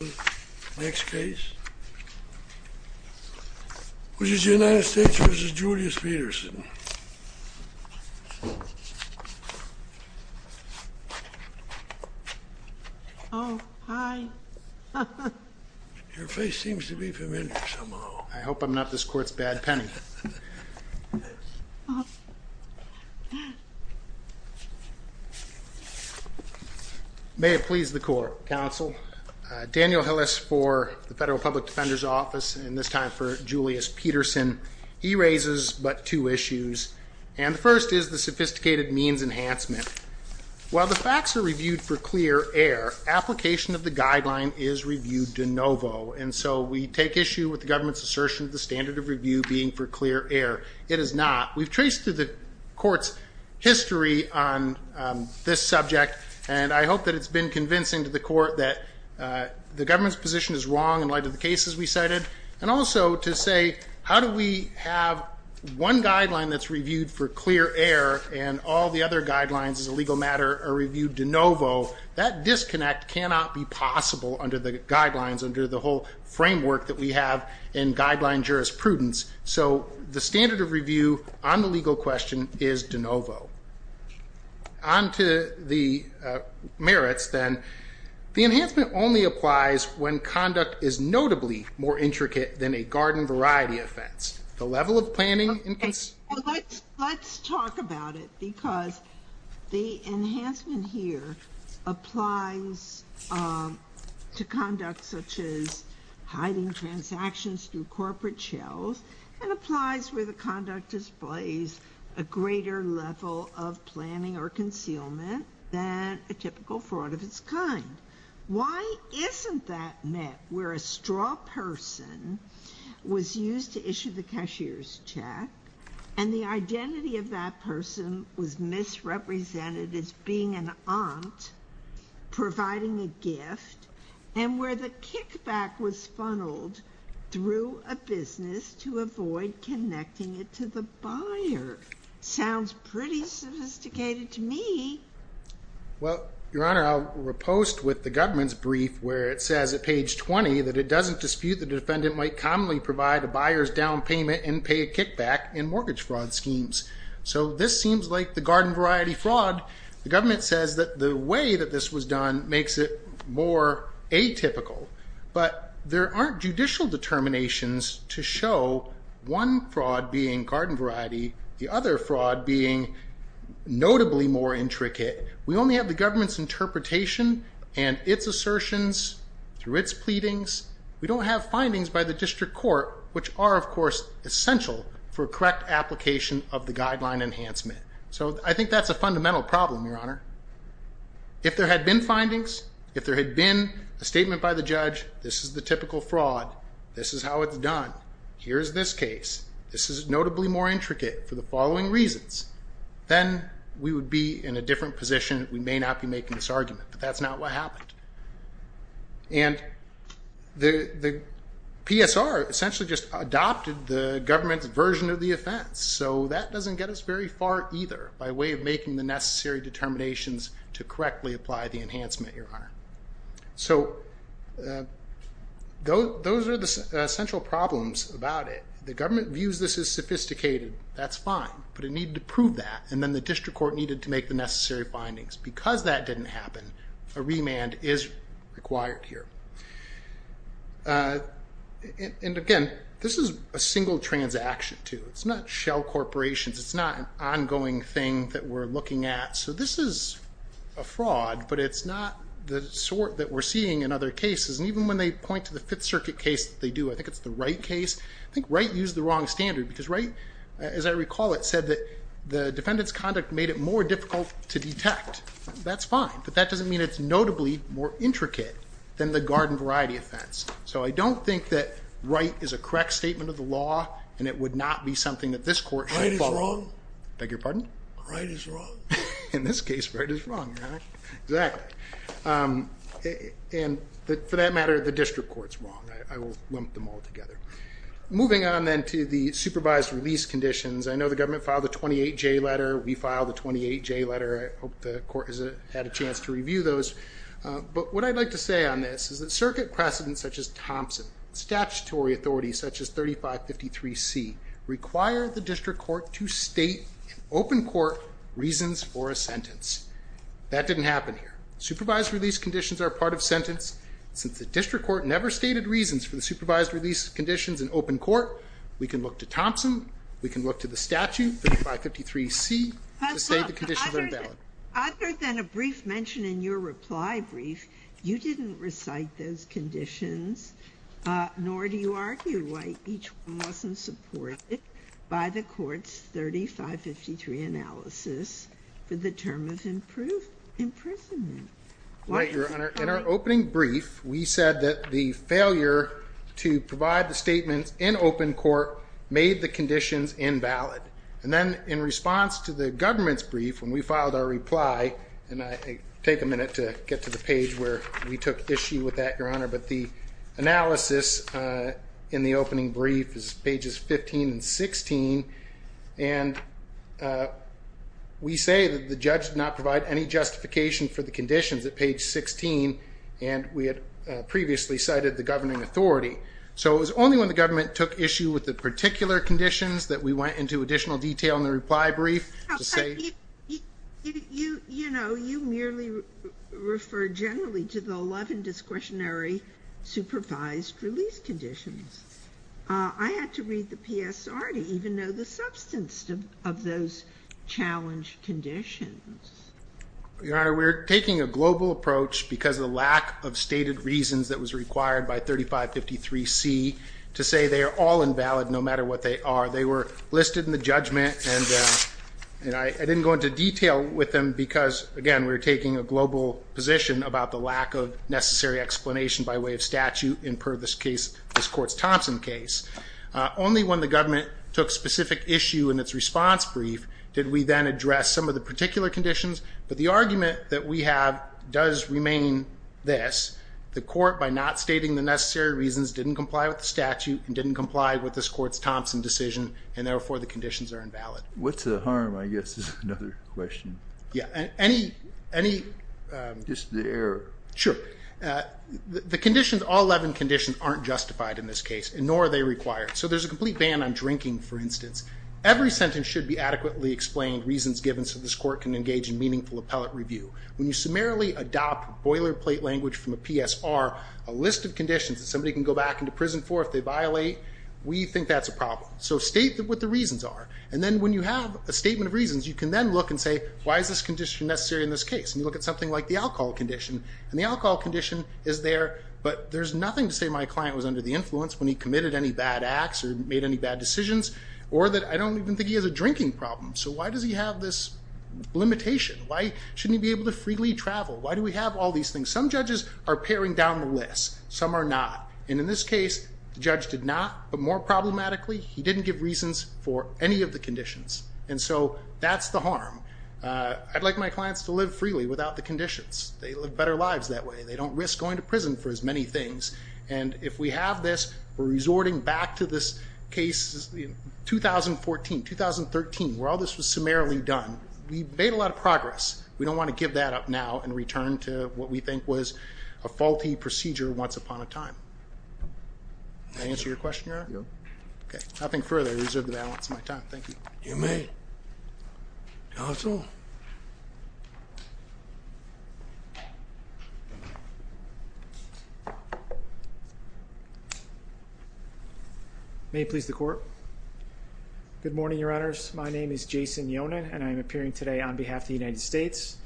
Oh, hi. Your face seems to be familiar somehow. I hope I'm not this court's bad penny. May it please the court, counsel. Daniel Hillis for the Federal Public Defender's Office, and this time for Julius Peterson. He raises but two issues, and the first is the sophisticated means enhancement. While the facts are reviewed for clear air, application of the guideline is reviewed de novo, and so we take issue with the government's assertion of the standard of review being for clear air. It is not. We've traced to the court's history on this subject, and I hope that it's been convincing to the court that the government's position is wrong in light of the cases we cited, and also to say how do we have one guideline that's reviewed for clear air and all the other guidelines as a legal matter are reviewed de novo. That disconnect cannot be possible under the guidelines, under the whole framework that we have in So the standard of review on the legal question is de novo. On to the merits, then. The enhancement only applies when conduct is notably more intricate than a garden variety offense. The level of planning and cons... Okay. Let's talk about it, because the enhancement here applies to conduct such as hiding transactions through corporate shells, and applies where the conduct displays a greater level of planning or concealment than a typical fraud of its kind. Why isn't that met where a straw person was used to issue the cashier's check, and the identity of that person was misrepresented as being an aunt providing a gift, and where the kickback was funneled through the business to avoid connecting it to the buyer? Sounds pretty sophisticated to me. Well, Your Honor, I'll repost with the government's brief where it says at page 20 that it doesn't dispute the defendant might commonly provide a buyer's down payment and pay a kickback in mortgage fraud schemes. So this seems like the garden variety fraud. The government says that the way that this was done makes it more atypical, but there aren't judicial determinations to show one fraud being garden variety, the other fraud being notably more intricate. We only have the government's interpretation and its assertions through its pleadings. We don't have findings by the district court, which are, of course, essential for correct application of the guideline enhancement. So I think that's a fundamental problem, Your Honor. If there had been findings, if there had been a statement by the judge, this is the typical fraud, this is how it's done, here's this case, this is notably more intricate for the following reasons, then we would be in a different position. We may not be making this argument, but that's not what happened. And the PSR essentially just adopted the government's version of the offense, so that doesn't get us very far either by way of making the necessary determinations to correctly apply the enhancement, Your Honor. So those are the essential problems about it. The government views this as sophisticated, that's fine, but it needed to prove that and then the district court needed to make the necessary findings. Because that didn't happen, a remand is required here. And again, this is a single transaction. It's not shell corporations, it's not an ongoing thing that we're looking at. So this is a fraud, but it's not the sort that we're seeing in other cases. And even when they point to the Fifth Circuit case that they do, I think it's the Wright case, I think Wright used the wrong standard. Because Wright, as I recall it, said that the defendant's conduct made it more difficult to detect. That's fine, but that doesn't mean it's notably more intricate than the garden variety offense. So I don't think that Wright is a correct statement of law, and it would not be something that this court should follow. Wright is wrong. Beg your pardon? Wright is wrong. In this case, Wright is wrong, Your Honor. Exactly. And for that matter, the district court's wrong. I will lump them all together. Moving on then to the supervised release conditions, I know the government filed a 28J letter, we filed a 28J letter, I hope the court has had a chance to review those. But what I'd like to say on this is that circuit precedents such as Thompson, statutory authorities such as 3553C require the district court to state in open court reasons for a sentence. That didn't happen here. Supervised release conditions are part of sentence. Since the district court never stated reasons for the supervised release conditions in open court, we can look to Thompson, we can look to the statute, 3553C, to say the conditions are invalid. Other than a brief mention in your reply brief, you didn't recite those conditions, nor do you argue why each one wasn't supported by the court's 3553 analysis for the term of imprisonment. In our opening brief, we said that the failure to provide the statements in open court made the conditions invalid. And then in response to the government's brief, when we filed our reply, and I take a minute to get to the page where we took issue with that, Your Honor, but the analysis in the opening brief is pages 15 and 16, and we say that the judge did not provide any justification for the conditions at page 16, and we had previously cited the governing authority. So it was only when the government took issue with the particular conditions that we went into additional detail in the reply brief to say... You know, you merely refer generally to the 11 discretionary supervised release conditions. I had to read the PSR to even know the substance of those challenge conditions. Your Honor, we're taking a global approach because of the lack of stated reasons that was required by 3553C to say they are all invalid no matter what they are. They were listed in the judgment, and I didn't go into detail with them because, again, we're taking a global position about the lack of necessary explanation by way of statute in this court's Thompson case. Only when the government took specific issue in its response brief did we then address some of the particular conditions, but the argument that we have does remain this. The court, by not stating the necessary reasons, didn't comply with the statute and didn't comply with this court's Thompson decision, and therefore the conditions are invalid. What's the harm, I guess, is another question. Yeah, any... Just the error. Sure. The conditions, all 11 conditions, aren't justified in this case, nor are they required. So there's a complete ban on drinking, for instance. Every sentence should be adequately explained, reasons given so this court can engage in meaningful appellate review. When you summarily adopt boilerplate language from a PSR, a list of conditions that somebody can go back into prison for if they violate, we think that's a problem. So state what the reasons are, and then when you have a statement of reasons, you can then look and say, why is this condition necessary in this case? And you look at something like the alcohol condition, and the alcohol condition is there, but there's nothing to say my client was under the influence when he committed any bad acts or made any bad decisions, or that I don't even think he has a drinking problem. So why does he have this limitation? Why shouldn't he be able to freely travel? Why do we have all these things? Some judges are paring down the list, some are not. And in this case, the judge did not, but more problematically, he didn't give reasons for any of the conditions. And so that's the harm. I'd like my clients to live freely without the conditions. They live better lives that way. They don't risk going to prison for as many things. And if we have this, we're resorting back to this case, 2014, 2013, where all this was summarily done. We've made a lot of progress. We don't want to give that up now and return to what we think was a faulty procedure once upon a time. Did I answer your question, Your Honor? No. Okay. Nothing further. I reserve the balance of my time. Thank you. You may. Counsel? May it please the Court? Good morning, Your Honors. My name is Jason Yonan, and I'm appearing today on behalf of the United States.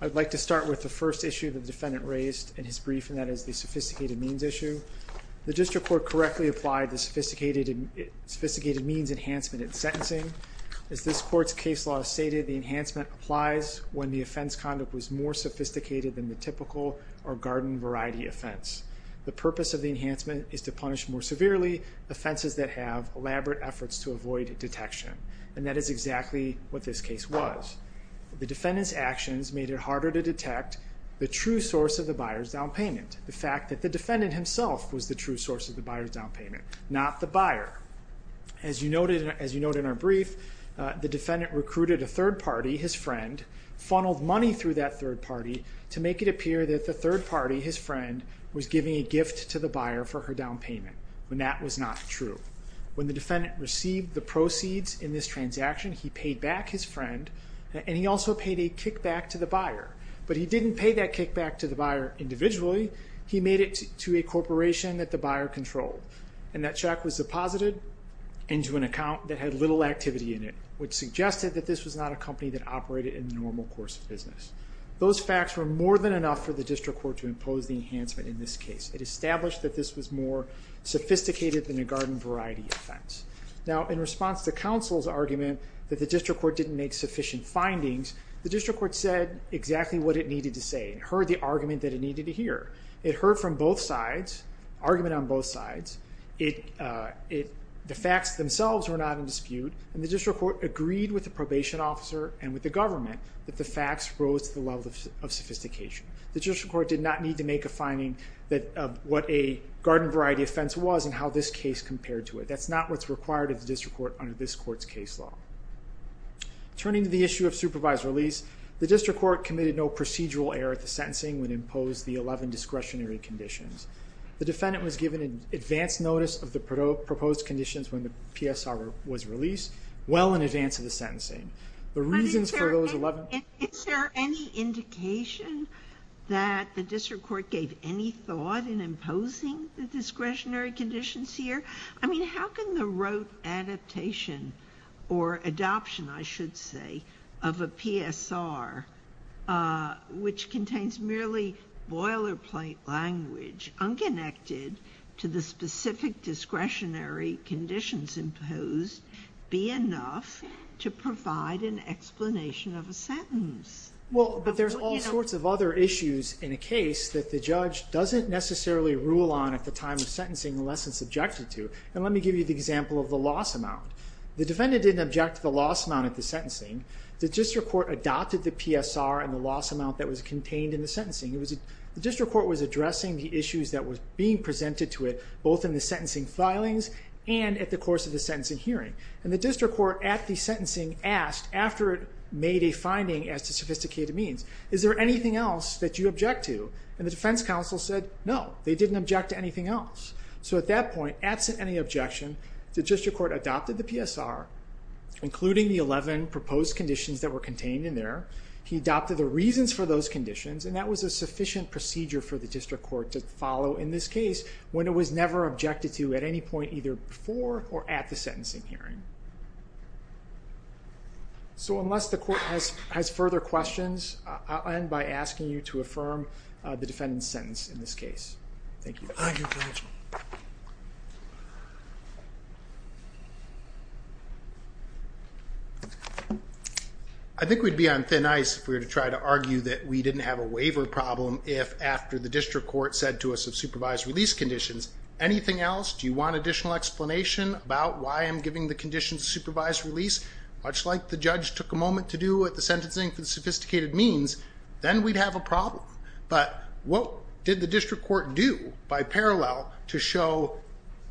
I'd like to start with the first issue the defendant raised in his brief, and that is the sophisticated means issue. The district court correctly applied the sophisticated means enhancement in sentencing. As this court's case law stated, the enhancement applies when the offense conduct was more sophisticated than the typical or garden variety offense. The purpose of the enhancement is to punish more severely offenses that have elaborate efforts to avoid detection. And that is exactly what this case was. The defendant's actions made it harder to detect the true source of the buyer's down payment, the fact that the defendant himself was the true source of the buyer's down payment, not the buyer. As you noted in our brief, the defendant recruited a third party, his friend, funneled money through that third party to make it appear that the third party, his friend, was giving a gift to the buyer for her down payment. In this transaction, he paid back his friend, and he also paid a kickback to the buyer. But he didn't pay that kickback to the buyer individually. He made it to a corporation that the buyer controlled. And that check was deposited into an account that had little activity in it, which suggested that this was not a company that operated in the normal course of business. Those facts were more than enough for the district court to impose the enhancement in this case. It established that this was more sophisticated than a garden variety offense. Now, in response to counsel's argument that the district court didn't make sufficient findings, the district court said exactly what it needed to say. It heard the argument that it needed to hear. It heard from both sides, argument on both sides. The facts themselves were not in dispute, and the district court agreed with the probation officer and with the government that the facts rose to the level of sophistication. The district court did not need to make a finding that what a garden variety offense was and how this case compared to it. That's not what's required of the district court under this court's case law. Turning to the issue of supervised release, the district court committed no procedural error at the sentencing when it imposed the 11 discretionary conditions. The defendant was given advance notice of the proposed conditions when the PSR was released well in advance of the sentencing. The reasons for those 11... Is there any indication that the district court gave any thought in imposing the discretionary conditions here? How can the rote adaptation or adoption, I should say, of a PSR, which contains merely boilerplate language, unconnected to the specific discretionary conditions imposed, be enough to provide an explanation of a sentence? Well, but there's all sorts of other issues in a case that the judge doesn't necessarily rule on at the time of sentencing unless it's objected to. And let me give you the example of the loss amount. The defendant didn't object to the loss amount at the sentencing. The district court adopted the PSR and the loss amount that was contained in the sentencing. The district court was addressing the issues that was being presented to it, both in the sentencing filings and at the course of the sentencing hearing. And the district court at the sentencing asked, after it made a finding as to sophisticated means, is there anything else that you object to? And the defense counsel said, no, they didn't object to anything else. So at that point, absent any objection, the district court adopted the PSR, including the 11 proposed conditions that were contained in there. He adopted the reasons for those conditions and that was a sufficient procedure for the district court to follow in this case when it was never objected to at any point either before or at the sentencing hearing. So, unless the court has further questions, I'll end by asking you to affirm the defendant's sentence in this case. Thank you. I think we'd be on thin ice if we were to try to argue that we didn't have a waiver problem if after the district court said to us of supervised release conditions, anything else, do you want additional explanation about why I'm giving the conditions of supervised release? Much like the judge took a moment to do at the sentencing for the sophisticated means, then we'd have a problem. But what did the district court do by parallel to show,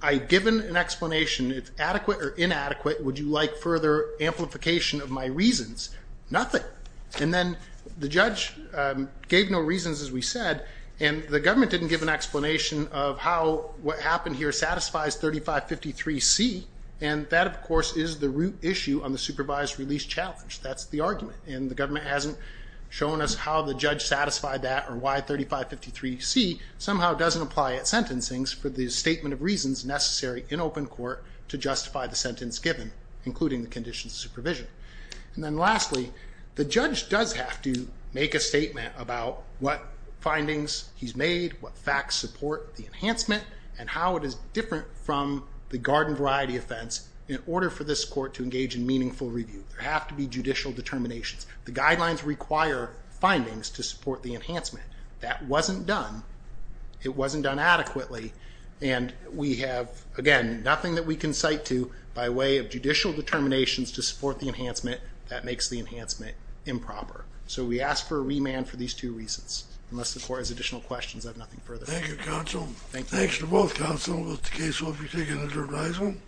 I've given an explanation, it's adequate or inadequate, would you like further amplification of my reasons? Nothing. And then the judge gave no reasons as we said, and the government didn't give an explanation of how what happened here satisfies 3553C, and that of course is the root issue on the supervised release challenge. That's the argument, and the government hasn't shown us how the judge satisfied that or why 3553C somehow doesn't apply at sentencing for the statement of reasons necessary in open court to justify the sentence given, including the conditions of supervision. And then lastly, the judge does have to make a statement of what facts support the enhancement and how it is different from the garden variety offense in order for this court to engage in meaningful review. There have to be judicial determinations. The guidelines require findings to support the enhancement. That wasn't done. It wasn't done adequately, and we have, again, nothing that we can cite to by way of judicial determinations to support the enhancement that makes the enhancement improper. So we as additional questions, I have nothing further. Thank you, counsel. Thanks to both counsels. The case will be taken into revisement.